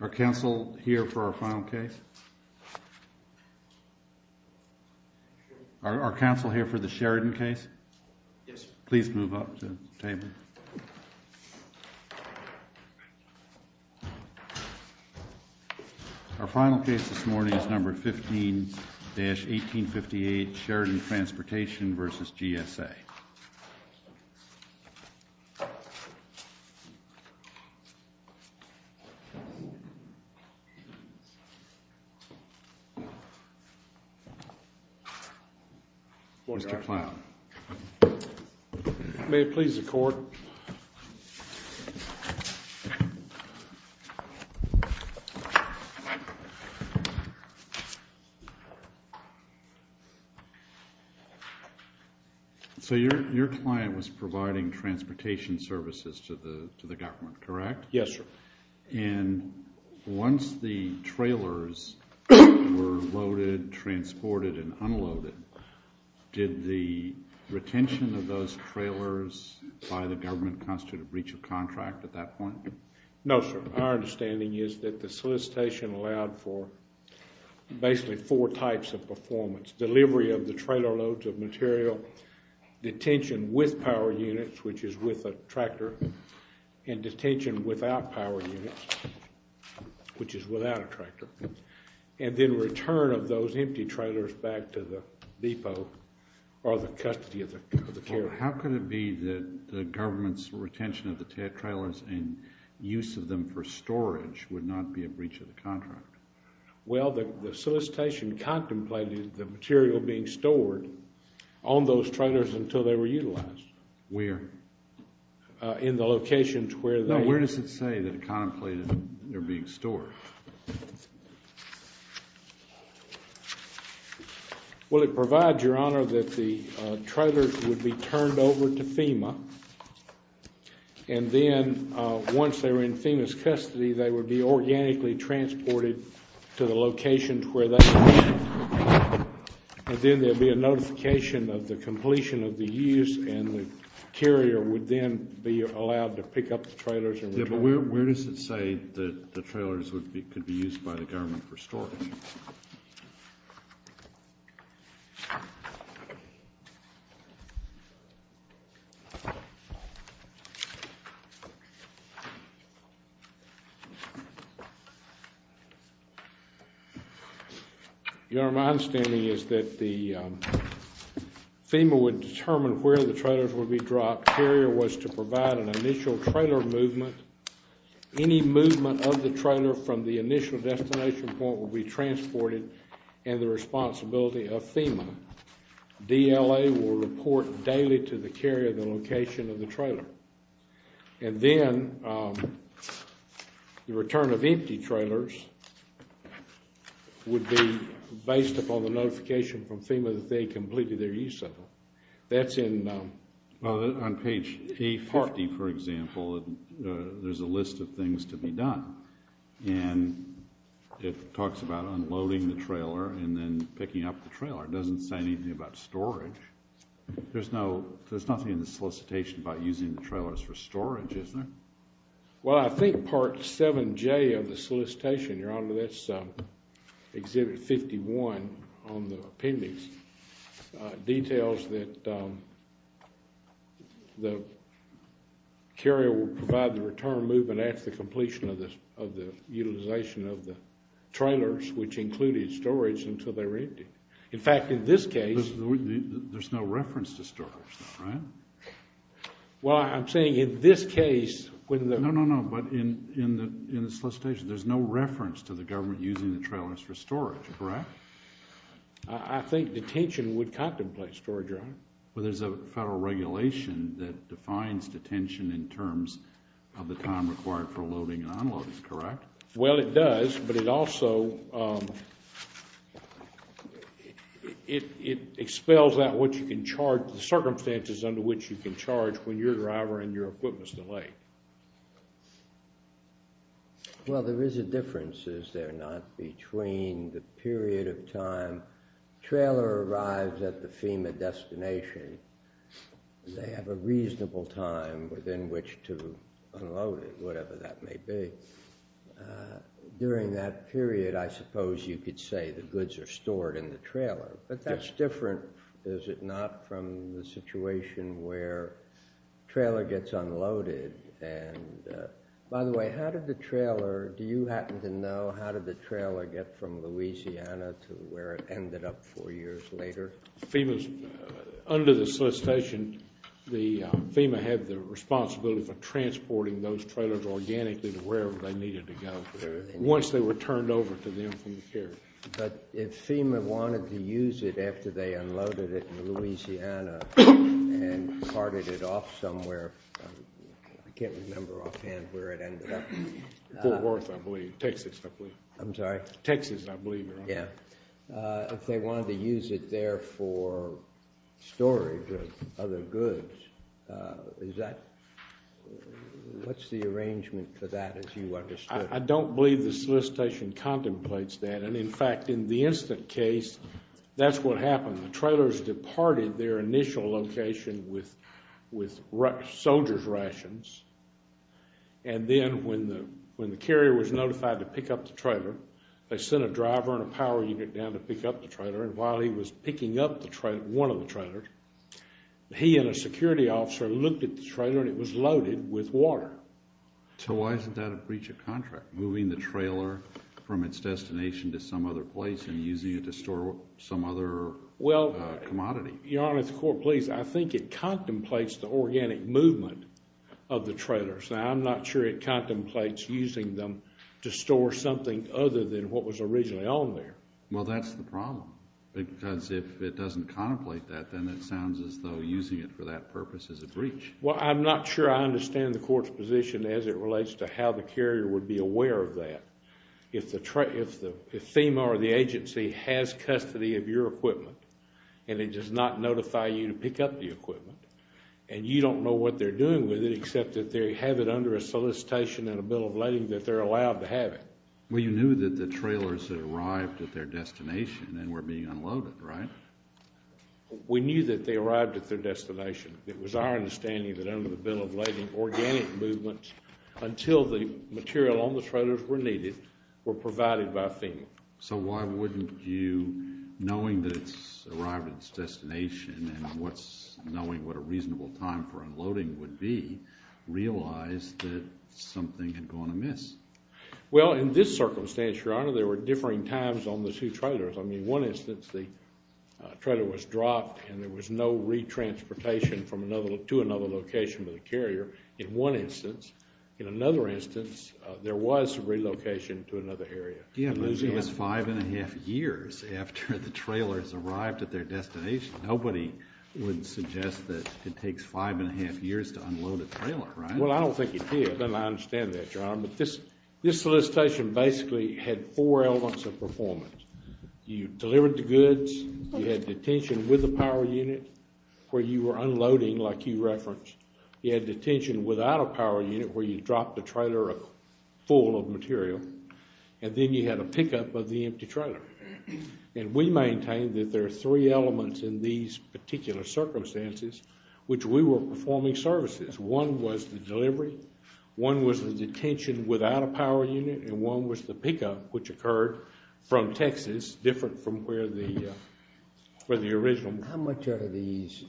Are Council here for our final case? Are Council here for the Sheridan case? Please move up to the table. Our final case this morning is No. 15-1858, Sheridan Transportation v. GSA. Mr. Clown. May it please the Court. So your client was providing transportation services to the government, correct? Yes, sir. And once the trailers were loaded, transported, and unloaded, did the retention of those trailers by the government constitute a breach of contract at that point? No, sir. Our understanding is that the solicitation allowed for basically four types of performance. Delivery of the trailer loads of material, detention with power units, which is with a tractor, and detention without power units, which is without a tractor. And then return of those empty trailers back to the depot or the custody of the carrier. How could it be that the government's retention of the trailers and use of them for storage would not be a breach of the contract? Well, the solicitation contemplated the material being stored on those trailers until they were utilized. Where? In the locations where they were. No, where does it say that it contemplated they're being stored? Well, it provides, Your Honor, that the trailers would be turned over to FEMA, and then once they were in FEMA's custody, they would be organically transported to the locations where they were. And then there would be a notification of the completion of the use, and the carrier would then be allowed to pick up the trailers and return them. Yeah, but where does it say that the trailers could be used by the government for storing? Your Honor, my understanding is that FEMA would determine where the trailers would be dropped. If the carrier was to provide an initial trailer movement, any movement of the trailer from the initial destination point would be transported, and the responsibility of FEMA. DLA will report daily to the carrier the location of the trailer. And then the return of empty trailers would be based upon the notification from FEMA that they had completed their use of them. Well, on page 50, for example, there's a list of things to be done, and it talks about unloading the trailer and then picking up the trailer. It doesn't say anything about storage. There's nothing in the solicitation about using the trailers for storage, is there? Well, I think Part 7J of the solicitation, Your Honor, that's Exhibit 51 on the appendix, details that the carrier will provide the return movement after the completion of the utilization of the trailers, which included storage until they were empty. In fact, in this case, there's no reference to storage, right? Well, I'm saying in this case, when the No, no, no. But in the solicitation, there's no reference to the government using the trailers for storage, correct? I think detention would contemplate storage, Your Honor. Well, there's a federal regulation that defines detention in terms of the time required for loading and unloading, correct? Well, it does, but it also expels out what you can charge, the circumstances under which you can charge when you're a driver and your equipment's delayed. Well, there is a difference, is there not, between the period of time trailer arrives at the FEMA destination, they have a reasonable time within which to unload it, whatever that may be. During that period, I suppose you could say the goods are stored in the trailer, but that's different, is it not, from the situation where the trailer gets unloaded. And, by the way, how did the trailer, do you happen to know, how did the trailer get from Louisiana to where it ended up four years later? FEMA's, under the solicitation, FEMA had the responsibility for transporting those trailers organically to wherever they needed to go, once they were turned over to them from the carrier. But if FEMA wanted to use it after they unloaded it in Louisiana and carted it off somewhere, I can't remember offhand where it ended up. Fort Worth, I believe, Texas, I believe. I'm sorry? Texas, I believe, right? Yeah. If they wanted to use it there for storage of other goods, is that, what's the arrangement for that, as you understood? I don't believe the solicitation contemplates that, and, in fact, in the incident case, that's what happened. The trailers departed their initial location with soldier's rations, and then when the carrier was notified to pick up the trailer, they sent a driver and a power unit down to pick up the trailer, and while he was picking up one of the trailers, he and a security officer looked at the trailer, and it was loaded with water. So why isn't that a breach of contract, moving the trailer from its destination to some other place and using it to store some other commodity? Well, Your Honor, if the Court please, I think it contemplates the organic movement of the trailers. Now, I'm not sure it contemplates using them to store something other than what was originally on there. Well, that's the problem, because if it doesn't contemplate that, then it sounds as though using it for that purpose is a breach. Well, I'm not sure I understand the Court's position as it relates to how the carrier would be aware of that. If FEMA or the agency has custody of your equipment and it does not notify you to pick up the equipment, and you don't know what they're doing with it except that they have it under a solicitation and a bill of lading that they're allowed to have it. Well, you knew that the trailers had arrived at their destination and were being unloaded, right? We knew that they arrived at their destination. It was our understanding that under the bill of lading, organic movements, until the material on the trailers were needed, were provided by FEMA. So why wouldn't you, knowing that it's arrived at its destination and knowing what a reasonable time for unloading would be, realize that something had gone amiss? Well, in this circumstance, Your Honor, there were differing times on the two trailers. I mean, in one instance, the trailer was dropped and there was no retransportation to another location for the carrier in one instance. In another instance, there was relocation to another area. Yeah, but it was five and a half years after the trailers arrived at their destination. Nobody would suggest that it takes five and a half years to unload a trailer, right? Well, I don't think it did, and I understand that, Your Honor. This solicitation basically had four elements of performance. You delivered the goods. You had detention with the power unit where you were unloading, like you referenced. You had detention without a power unit where you dropped the trailer full of material. And then you had a pickup of the empty trailer. And we maintained that there are three elements in these particular circumstances which we were performing services. One was the delivery, one was the detention without a power unit, and one was the pickup, which occurred from Texas, different from where the original was. How much are these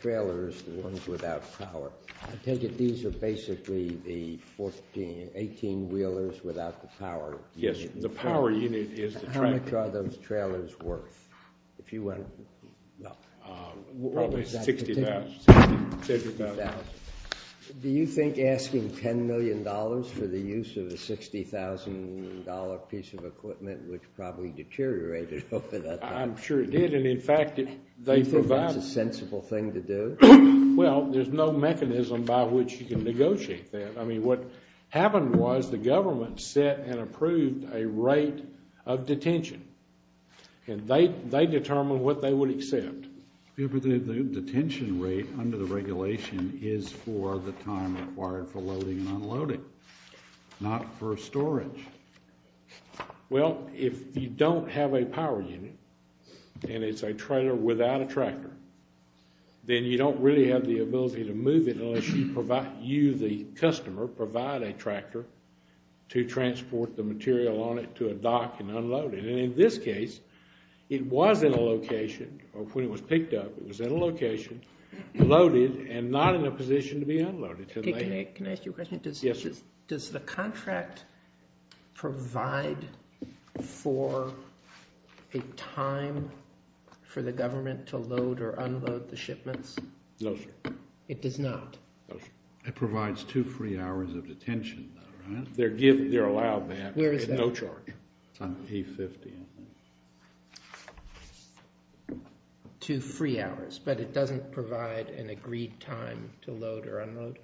trailers, the ones without power? I take it these are basically the 18-wheelers without the power. Yes, the power unit is the trailer. How much are those trailers worth? Probably $60,000. Do you think asking $10 million for the use of a $60,000 piece of equipment would probably deteriorate it over that time? I'm sure it did, and, in fact, they provided. Do you think that's a sensible thing to do? Well, there's no mechanism by which you can negotiate that. I mean, what happened was the government set and approved a rate of detention. And they determined what they would accept. The detention rate under the regulation is for the time required for loading and unloading, not for storage. Well, if you don't have a power unit and it's a trailer without a tractor, then you don't really have the ability to move it unless you, the customer, provide a tractor to transport the material on it to a dock and unload it. And in this case, it was in a location, or when it was picked up, it was in a location, loaded, and not in a position to be unloaded. Can I ask you a question? Yes, sir. Does the contract provide for a time for the government to load or unload the shipments? No, sir. It does not? No, sir. It provides two free hours of detention, though, right? They're allowed that at no charge. Where is that? E50, I think. Two free hours, but it doesn't provide an agreed time to load or unload?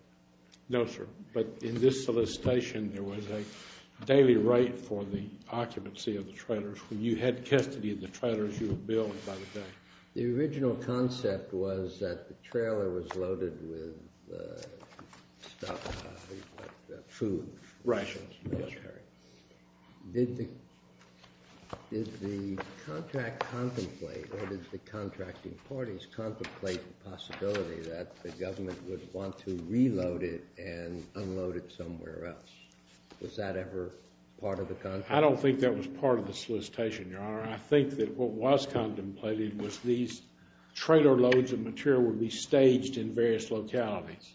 No, sir. But in this solicitation, there was a daily rate for the occupancy of the trailers. When you had custody of the trailers, you were billed by the day. The original concept was that the trailer was loaded with food. Right. Did the contracting parties contemplate the possibility that the government would want to reload it and unload it somewhere else? Was that ever part of the contract? I don't think that was part of the solicitation, Your Honor. I think that what was contemplated was these trailer loads of material would be staged in various localities.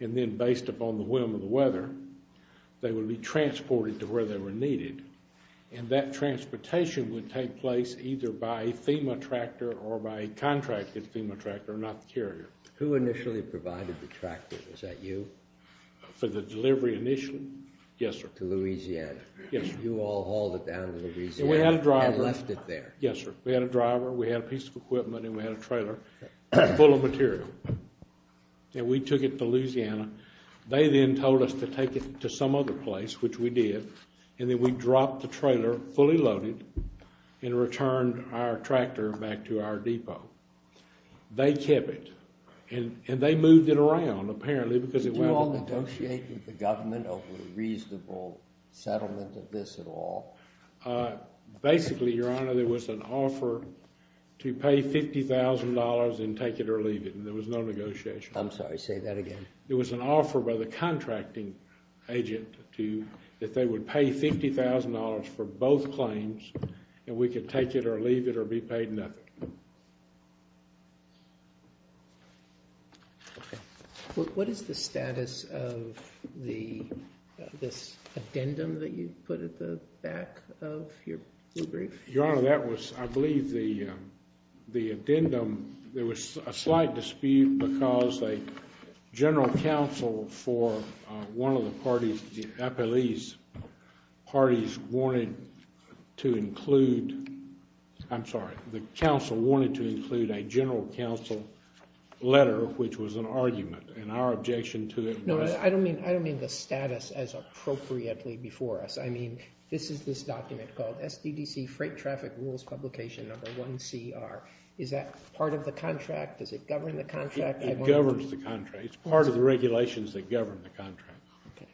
And then based upon the whim of the weather, they would be transported to where they were needed. And that transportation would take place either by a FEMA tractor or by a contracted FEMA tractor, not the carrier. Who initially provided the tractor? Was that you? For the delivery initially? Yes, sir. To Louisiana. Yes, sir. You all hauled it down to Louisiana and left it there. Yes, sir. We had a driver. We had a piece of equipment, and we had a trailer full of material. And we took it to Louisiana. They then told us to take it to some other place, which we did. And then we dropped the trailer, fully loaded, and returned our tractor back to our depot. They kept it. And they moved it around, apparently, because it wasn't loaded. Did you all negotiate with the government over the reasonable settlement of this at all? Basically, Your Honor, there was an offer to pay $50,000 and take it or leave it. And there was no negotiation. I'm sorry, say that again. There was an offer by the contracting agent that they would pay $50,000 for both claims, and we could take it or leave it or be paid nothing. What is the status of this addendum that you put at the back of your brief? Your Honor, that was, I believe, the addendum. There was a slight dispute because a general counsel for one of the parties, the appellees' parties, wanted to include, I'm sorry, the counsel wanted to include a general counsel letter, which was an argument. And our objection to it was... No, I don't mean the status as appropriately before us. I mean this is this document called SDDC Freight Traffic Rules Publication No. 1CR. Is that part of the contract? Does it govern the contract? It governs the contract. It's part of the regulations that govern the contract. Okay.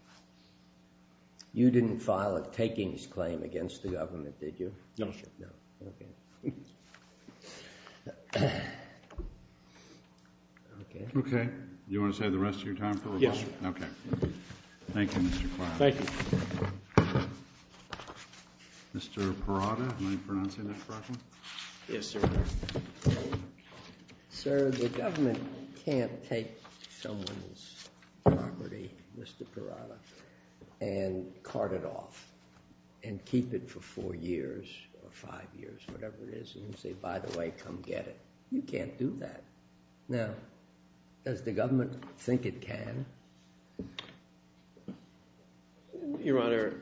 You didn't file a takings claim against the government, did you? No, sir. No, okay. Okay. Okay. Do you want to stay the rest of your time, Phil? Yes, sir. Okay. Thank you, Mr. Clark. Thank you. Mr. Parada, am I pronouncing that correctly? Yes, sir. Sir, the government can't take someone's property, Mr. Parada, and cart it off and keep it for four years or five years, whatever it is, and say, by the way, come get it. You can't do that. Now, does the government think it can? Your Honor,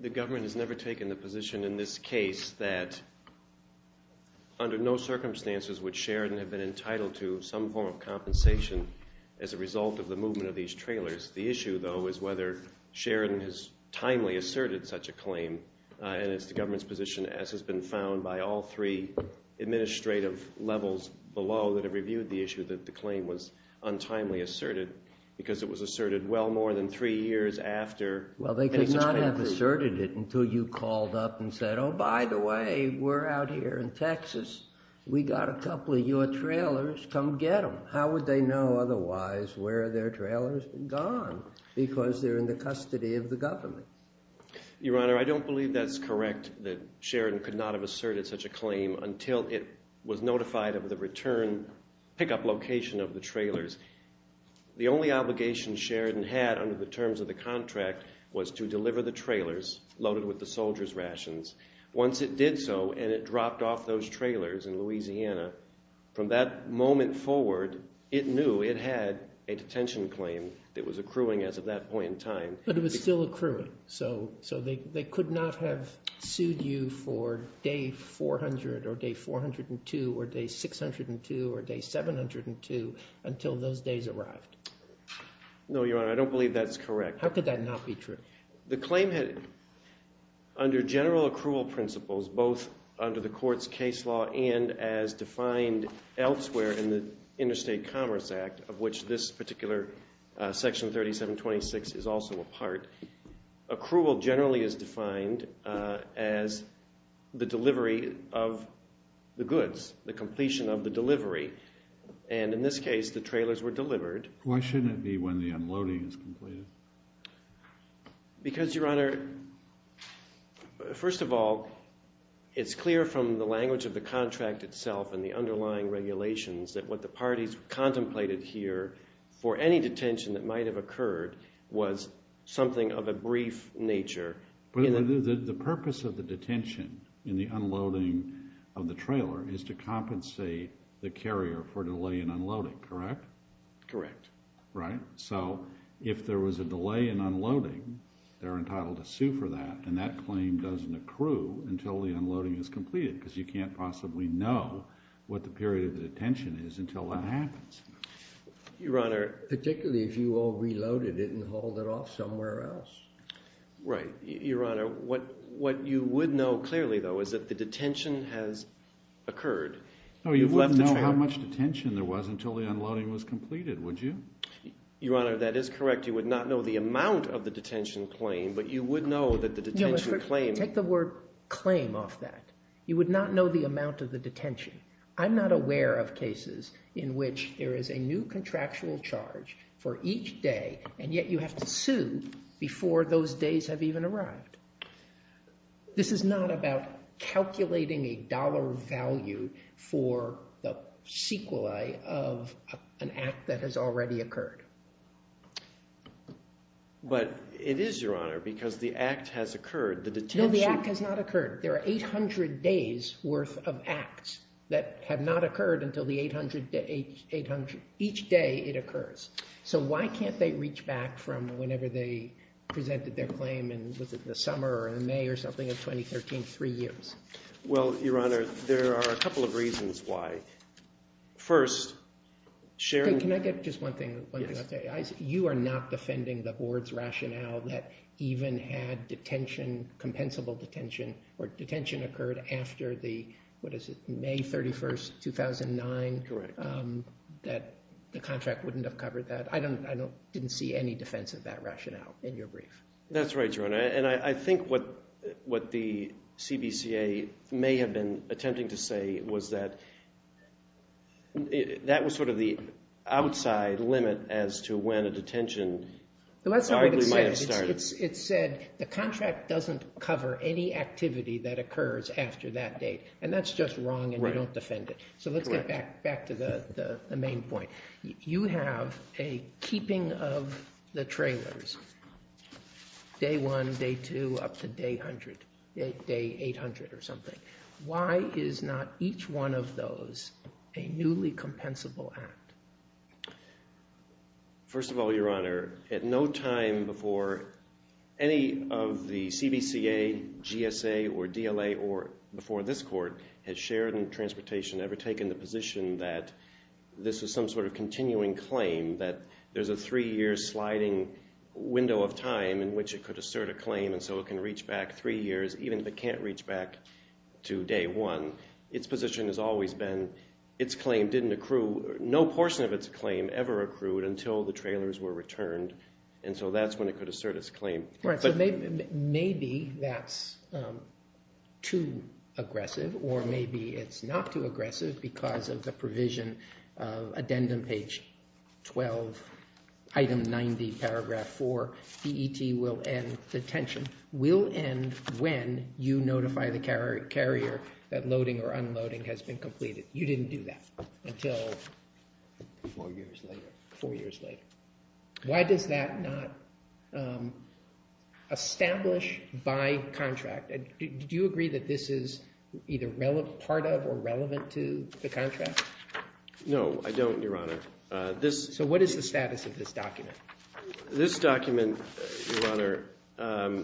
the government has never taken the position in this case that under no circumstances would Sheridan have been entitled to some form of compensation as a result of the movement of these trailers. The issue, though, is whether Sheridan has timely asserted such a claim, and it's the government's position, as has been found by all three administrative levels below that have reviewed the issue that the claim was untimely asserted because it was asserted well more than three years after. Well, they could not have asserted it until you called up and said, oh, by the way, we're out here in Texas. We got a couple of your trailers. Come get them. How would they know otherwise where their trailer's gone? Because they're in the custody of the government. Your Honor, I don't believe that's correct, that Sheridan could not have asserted such a claim until it was notified of the return pickup location of the trailers. The only obligation Sheridan had under the terms of the contract was to deliver the trailers loaded with the soldiers' rations. Once it did so and it dropped off those trailers in Louisiana, from that moment forward it knew it had a detention claim that was accruing as of that point in time. But it was still accruing. So they could not have sued you for day 400 or day 402 or day 602 or day 702 until those days arrived. No, Your Honor. I don't believe that's correct. How could that not be true? The claim had, under general accrual principles, both under the court's case law and as defined elsewhere in the Interstate Commerce Act, of which this particular Section 3726 is also a part, accrual generally is defined as the delivery of the goods, the completion of the delivery. And in this case the trailers were delivered. Why shouldn't it be when the unloading is completed? Because, Your Honor, first of all, that what the parties contemplated here for any detention that might have occurred was something of a brief nature. But the purpose of the detention in the unloading of the trailer is to compensate the carrier for delay in unloading, correct? Correct. Right. So if there was a delay in unloading, they're entitled to sue for that, and that claim doesn't accrue until the unloading is completed because you can't possibly know what the period of detention is until that happens. Your Honor. Particularly if you all reloaded it and hauled it off somewhere else. Right. Your Honor, what you would know clearly, though, is that the detention has occurred. No, you wouldn't know how much detention there was until the unloading was completed, would you? Your Honor, that is correct. You would not know the amount of the detention claim, but you would know that the detention claim. Take the word claim off that. You would not know the amount of the detention. I'm not aware of cases in which there is a new contractual charge for each day, and yet you have to sue before those days have even arrived. This is not about calculating a dollar value for the sequelae of an act that has already occurred. But it is, Your Honor, because the act has occurred. The detention. No, the act has not occurred. There are 800 days worth of acts that have not occurred until each day it occurs. So why can't they reach back from whenever they presented their claim in, was it the summer or in May or something of 2013, three years? Well, Your Honor, there are a couple of reasons why. First, sharing. Can I get just one thing? Yes. You are not defending the board's rationale that even had detention, compensable detention, or detention occurred after the, what is it, May 31st, 2009? Correct. That the contract wouldn't have covered that? I didn't see any defense of that rationale in your brief. That's right, Your Honor. And I think what the CBCA may have been attempting to say was that that was sort of the outside limit as to when a detention arguably might have started. It said the contract doesn't cover any activity that occurs after that date. And that's just wrong and you don't defend it. So let's get back to the main point. You have a keeping of the trailers, day one, day two, up to day 100, day 800 or something. Why is not each one of those a newly compensable act? First of all, Your Honor, at no time before any of the CBCA, GSA, or DLA, or before this court, has Sheridan Transportation ever taken the position that this is some sort of continuing claim that there's a three-year sliding window of time in which it could assert a claim and so it can reach back three years even if it can't reach back to day one. Its position has always been its claim didn't accrue. No portion of its claim ever accrued until the trailers were returned, and so that's when it could assert its claim. Right, so maybe that's too aggressive or maybe it's not too aggressive because of the provision of addendum page 12, item 90, paragraph 4, DET will end detention. DET will end when you notify the carrier that loading or unloading has been completed. You didn't do that until four years later. Why does that not establish by contract? Do you agree that this is either part of or relevant to the contract? No, I don't, Your Honor. So what is the status of this document? This document, Your Honor,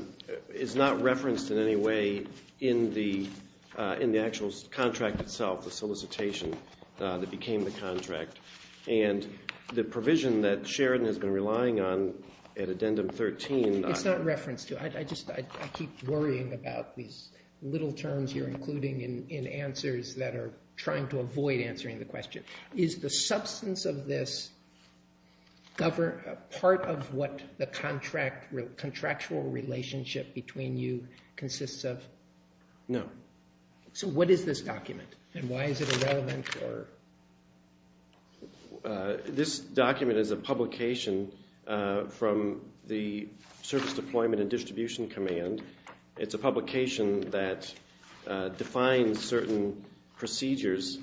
is not referenced in any way in the actual contract itself, the solicitation that became the contract, and the provision that Sheridan has been relying on at addendum 13. It's not referenced. I just keep worrying about these little terms you're including in answers that are trying to avoid answering the question. Is the substance of this part of what the contractual relationship between you consists of? No. So what is this document, and why is it relevant? This document is a publication from the Service Deployment and Distribution Command. It's a publication that defines certain procedures.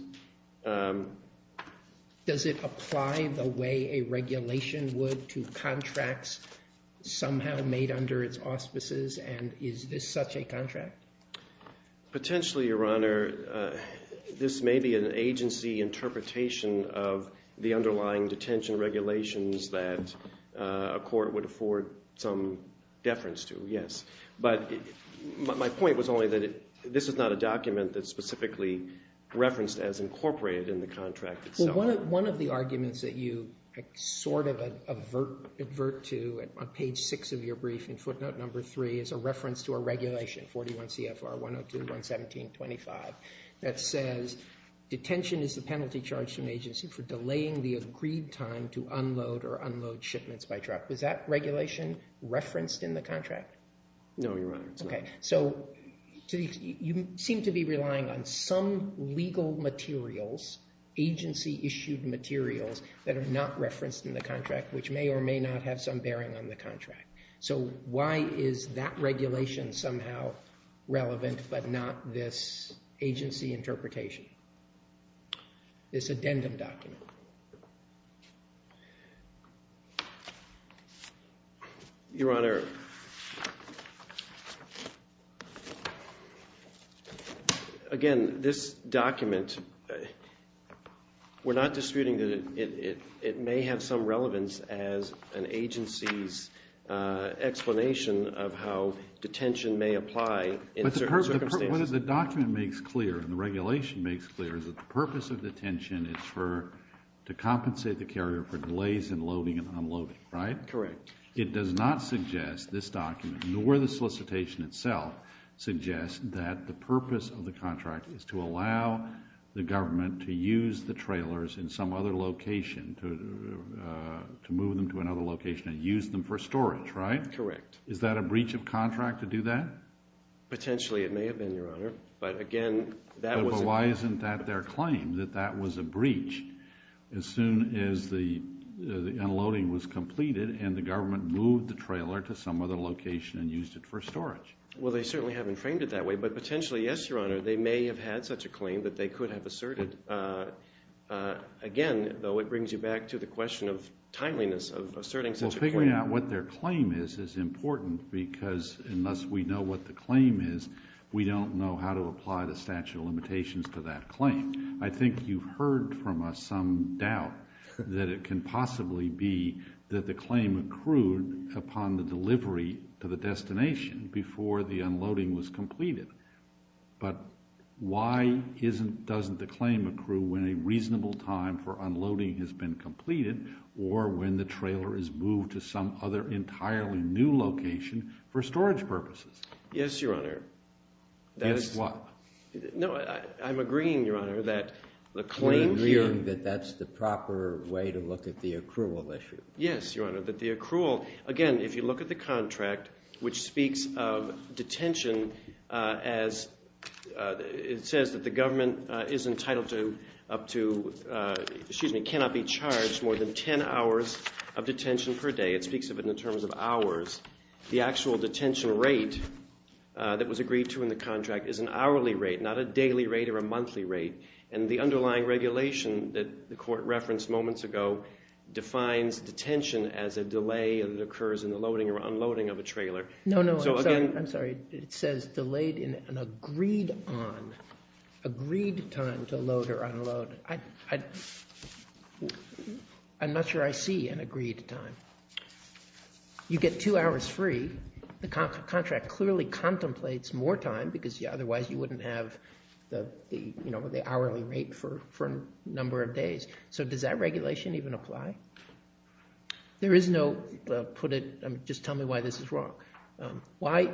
Does it apply the way a regulation would to contracts somehow made under its auspices, and is this such a contract? Potentially, Your Honor. This may be an agency interpretation of the underlying detention regulations that a court would afford some deference to, yes. But my point was only that this is not a document that's specifically referenced as incorporated in the contract itself. Well, one of the arguments that you sort of advert to on page 6 of your brief in footnote number 3 is a reference to a regulation, 41 CFR 102, 117, 25, that says detention is the penalty charged to an agency for delaying the agreed time to unload or unload shipments by truck. Was that regulation referenced in the contract? No, Your Honor. Okay. So you seem to be relying on some legal materials, agency-issued materials, that are not referenced in the contract, which may or may not have some bearing on the contract. So why is that regulation somehow relevant but not this agency interpretation, this addendum document? Your Honor, again, this document, we're not disputing that it may have some relevance as an agency's explanation of how detention may apply in certain circumstances. What the document makes clear and the regulation makes clear is that the purpose of detention is to compensate the carrier for delays in loading and unloading, right? Correct. It does not suggest this document, nor the solicitation itself, suggests that the purpose of the contract is to allow the government to use the trailers in some other location, to move them to another location and use them for storage, right? Correct. Is that a breach of contract to do that? Potentially it may have been, Your Honor. But again, that was a breach. But why isn't that their claim, that that was a breach, as soon as the unloading was completed and the government moved the trailer to some other location and used it for storage? Well, they certainly haven't framed it that way. But potentially, yes, Your Honor, they may have had such a claim that they could have asserted. Again, though, it brings you back to the question of timeliness of asserting such a claim. Well, figuring out what their claim is is important because unless we know what the claim is, we don't know how to apply the statute of limitations to that claim. I think you've heard from us some doubt that it can possibly be that the claim accrued upon the delivery to the destination before the unloading was completed. But why doesn't the claim accrue when a reasonable time for unloading has been completed or when the trailer is moved to some other entirely new location for storage purposes? Yes, Your Honor. Yes, what? No, I'm agreeing, Your Honor, that the claim can... You're agreeing that that's the proper way to look at the accrual issue. Yes, Your Honor, that the accrual... Again, if you look at the contract, which speaks of detention as it says that the government is entitled to up to... 10 hours of detention per day. It speaks of it in terms of hours. The actual detention rate that was agreed to in the contract is an hourly rate, not a daily rate or a monthly rate. And the underlying regulation that the court referenced moments ago defines detention as a delay that occurs in the loading or unloading of a trailer. No, no, I'm sorry. It says delayed in an agreed on, agreed time to load or unload. I'm not sure I see an agreed time. You get two hours free. The contract clearly contemplates more time because otherwise you wouldn't have the hourly rate for a number of days. So does that regulation even apply? There is no... Just tell me why this is wrong. Why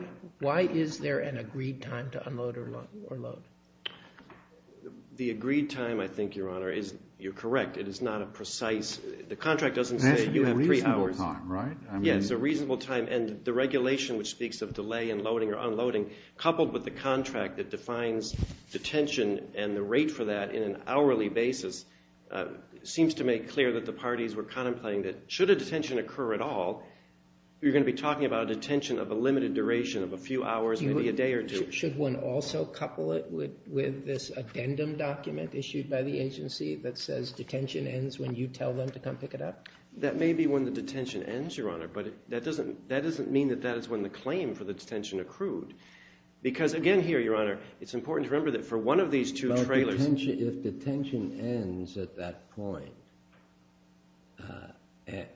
is there an agreed time to unload or load? The agreed time, I think, Your Honor, you're correct. It is not a precise... The contract doesn't say you have three hours. That's a reasonable time, right? Yes, a reasonable time. And the regulation which speaks of delay in loading or unloading coupled with the contract that defines detention and the rate for that in an hourly basis seems to make clear that the parties were contemplating that should a detention occur at all, you're going to be talking about a detention of a limited duration of a few hours, maybe a day or two. Should one also couple it with this addendum document issued by the agency that says detention ends when you tell them to come pick it up? That may be when the detention ends, Your Honor, but that doesn't mean that that is when the claim for the detention accrued because, again here, Your Honor, it's important to remember that for one of these two trailers... If detention ends at that point,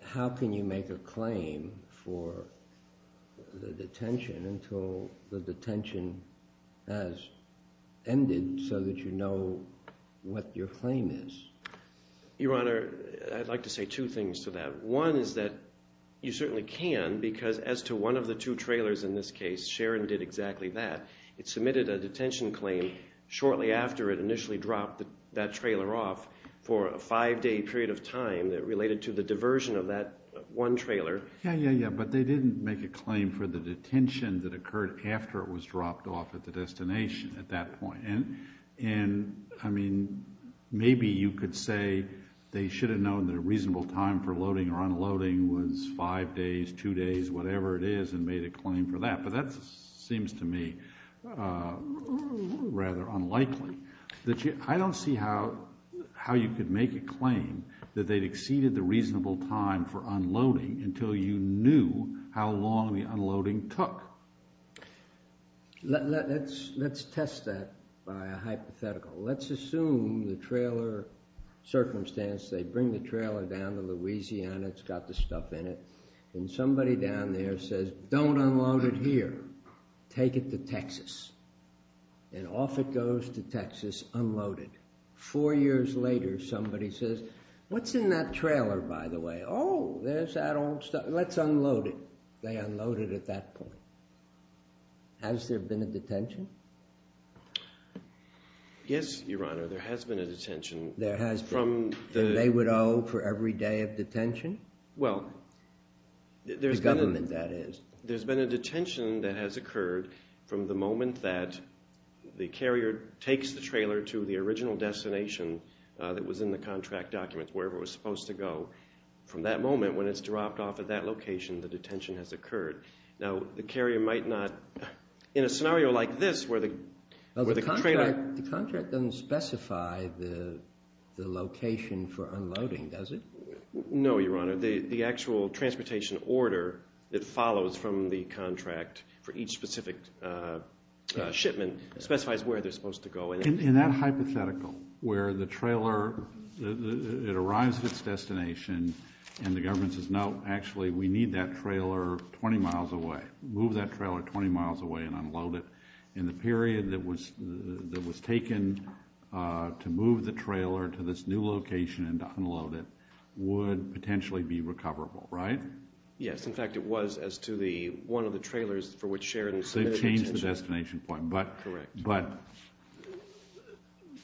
how can you make a claim for the detention until the detention has ended so that you know what your claim is? Your Honor, I'd like to say two things to that. One is that you certainly can because as to one of the two trailers in this case, Sharon did exactly that. It submitted a detention claim shortly after it initially dropped that trailer off for a five-day period of time that related to the diversion of that one trailer. Yeah, yeah, yeah, but they didn't make a claim for the detention that occurred after it was dropped off at the destination at that point. And, I mean, maybe you could say they should have known that a reasonable time for loading or unloading was five days, two days, whatever it is, and made a claim for that, but that seems to me rather unlikely. I don't see how you could make a claim that they'd exceeded the reasonable time for unloading until you knew how long the unloading took. Let's test that by a hypothetical. Let's assume the trailer circumstance. They bring the trailer down to Louisiana. It's got the stuff in it. And somebody down there says, Don't unload it here. Take it to Texas. And off it goes to Texas unloaded. Four years later, somebody says, What's in that trailer, by the way? Oh, there's that old stuff. Let's unload it. They unload it at that point. Has there been a detention? Yes, Your Honor, there has been a detention. There has been. And they would owe for every day of detention? The government, that is. There's been a detention that has occurred from the moment that the carrier takes the trailer to the original destination that was in the contract document, wherever it was supposed to go. From that moment, when it's dropped off at that location, the detention has occurred. Now, the carrier might not, in a scenario like this where the trailer... The contract doesn't specify the location for unloading, does it? No, Your Honor. The actual transportation order that follows from the contract for each specific shipment specifies where they're supposed to go. In that hypothetical, where the trailer arrives at its destination and the government says, No, actually, we need that trailer 20 miles away, move that trailer 20 miles away and unload it, in the period that was taken to move the trailer to this new location and to unload it would potentially be recoverable, right? Yes. In fact, it was as to one of the trailers for which Sharon submitted the detention. They've changed the destination point. Correct. But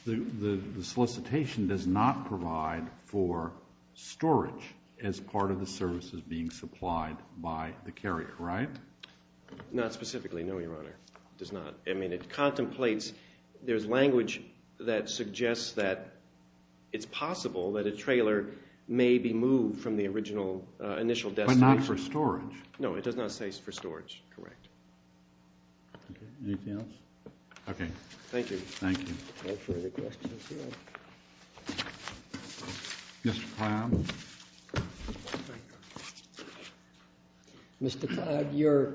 the solicitation does not provide for storage as part of the services being supplied by the carrier, right? Not specifically, no, Your Honor. It does not. I mean, it contemplates... There's language that suggests that it's possible that a trailer may be moved from the initial destination. But not for storage. No, it does not say for storage, correct. Anything else? Okay. Thank you. Thank you. Mr. Cloud? Mr. Cloud, your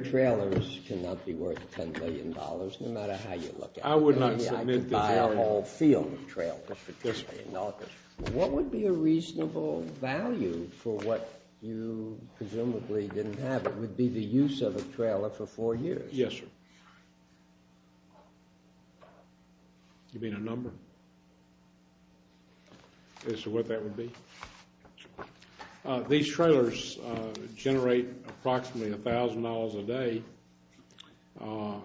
trailers cannot be worth $10 billion, no matter how you look at it. I would not submit this argument. Maybe I could buy a whole field of trailers for this way in August. What would be a reasonable value for what you presumably didn't have? What would be the use of a trailer for four years? Yes, sir. You mean a number? As to what that would be? These trailers generate approximately $1,000 a day,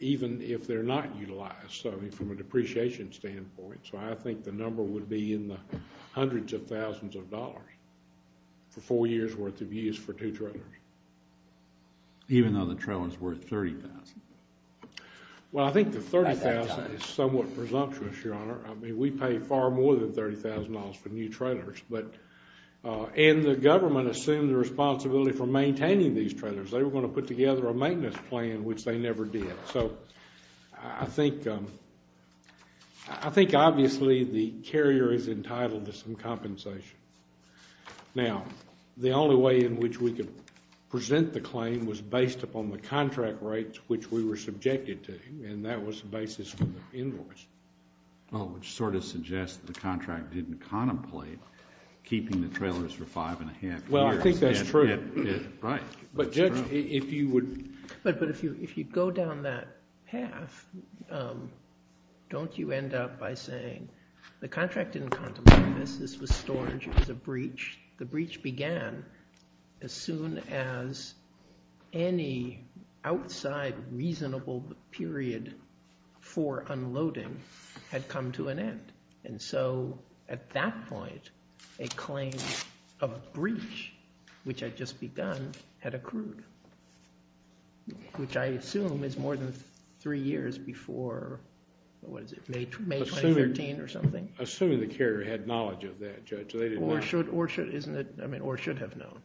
even if they're not utilized, so I mean, from a depreciation standpoint. So I think the number would be in the hundreds of thousands of dollars for four years' worth of use for two trailers. Even though the trailer's worth $30,000? Well, I think the $30,000 is somewhat presumptuous, Your Honor. I mean, we pay far more than $30,000 for new trailers. And the government assumed the responsibility for maintaining these trailers. They were going to put together a maintenance plan, which they never did. I think obviously the carrier is entitled to some compensation. Now, the only way in which we could present the claim was based upon the contract rates which we were subjected to, and that was the basis for the invoice. Well, which sort of suggests the contract didn't contemplate keeping the trailers for five and a half years. Well, I think that's true. Right. But, Judge, if you would... But if you go down that path, don't you end up by saying, the contract didn't contemplate this. This was storage. It was a breach. The breach began as soon as any outside reasonable period for unloading had come to an end. And so at that point, a claim of breach, which had just begun, had accrued, which I assume is more than three years before, what is it, May 2013 or something? Assuming the carrier had knowledge of that, Judge. Or should have known.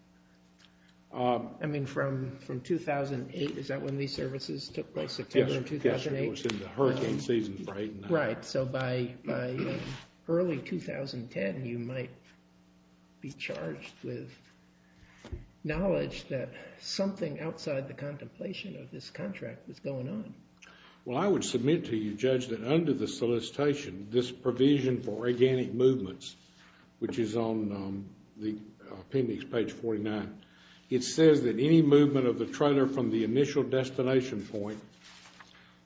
I mean, from 2008, is that when these services took place? September of 2008? Yes. It was in the hurricane season for eight and a half years. Right. So by early 2010, you might be charged with knowledge that something outside the contemplation of this contract was going on. Well, I would submit to you, Judge, that under the solicitation, this provision for organic movements, which is on the appendix, page 49, it says that any movement of the trailer from the initial destination point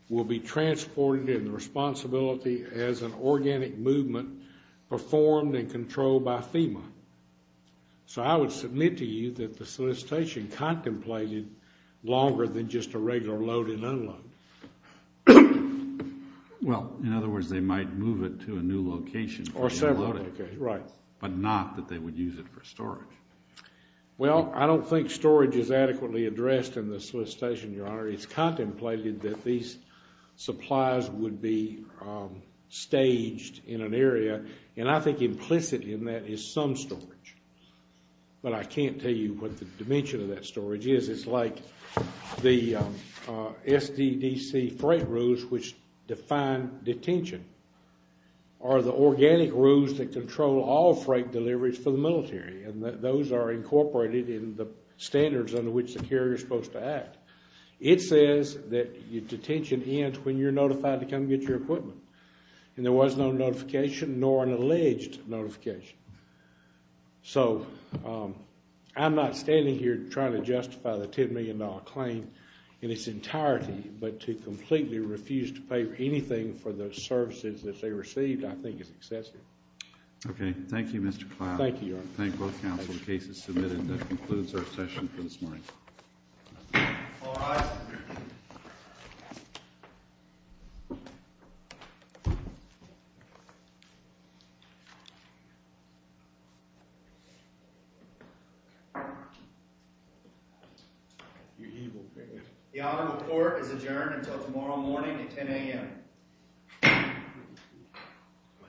will be transported in the responsibility as an organic movement performed and controlled by FEMA. So I would submit to you that the solicitation contemplated longer than just a regular load and unload. Well, in other words, they might move it to a new location. Or several locations. Right. But not that they would use it for storage. Well, I don't think storage is adequately addressed in the solicitation, Your Honor. It's contemplated that these supplies would be staged in an area, and I think implicit in that is some storage. But I can't tell you what the dimension of that storage is. It's like the SDDC freight rules, which define detention, are the organic rules that control all freight deliveries for the military. And those are incorporated in the standards under which the carrier is supposed to act. It says that detention ends when you're notified to come get your equipment. And there was no notification, nor an alleged notification. So I'm not standing here trying to justify the $10 million claim in its entirety, but to completely refuse to pay anything for the services that they received, I think is excessive. Okay. Thank you, Mr. Cloud. Thank you, Your Honor. Thank both counsel. The case is submitted. That concludes our session for this morning. All rise. The Honorable Court is adjourned until tomorrow morning at 10 a.m.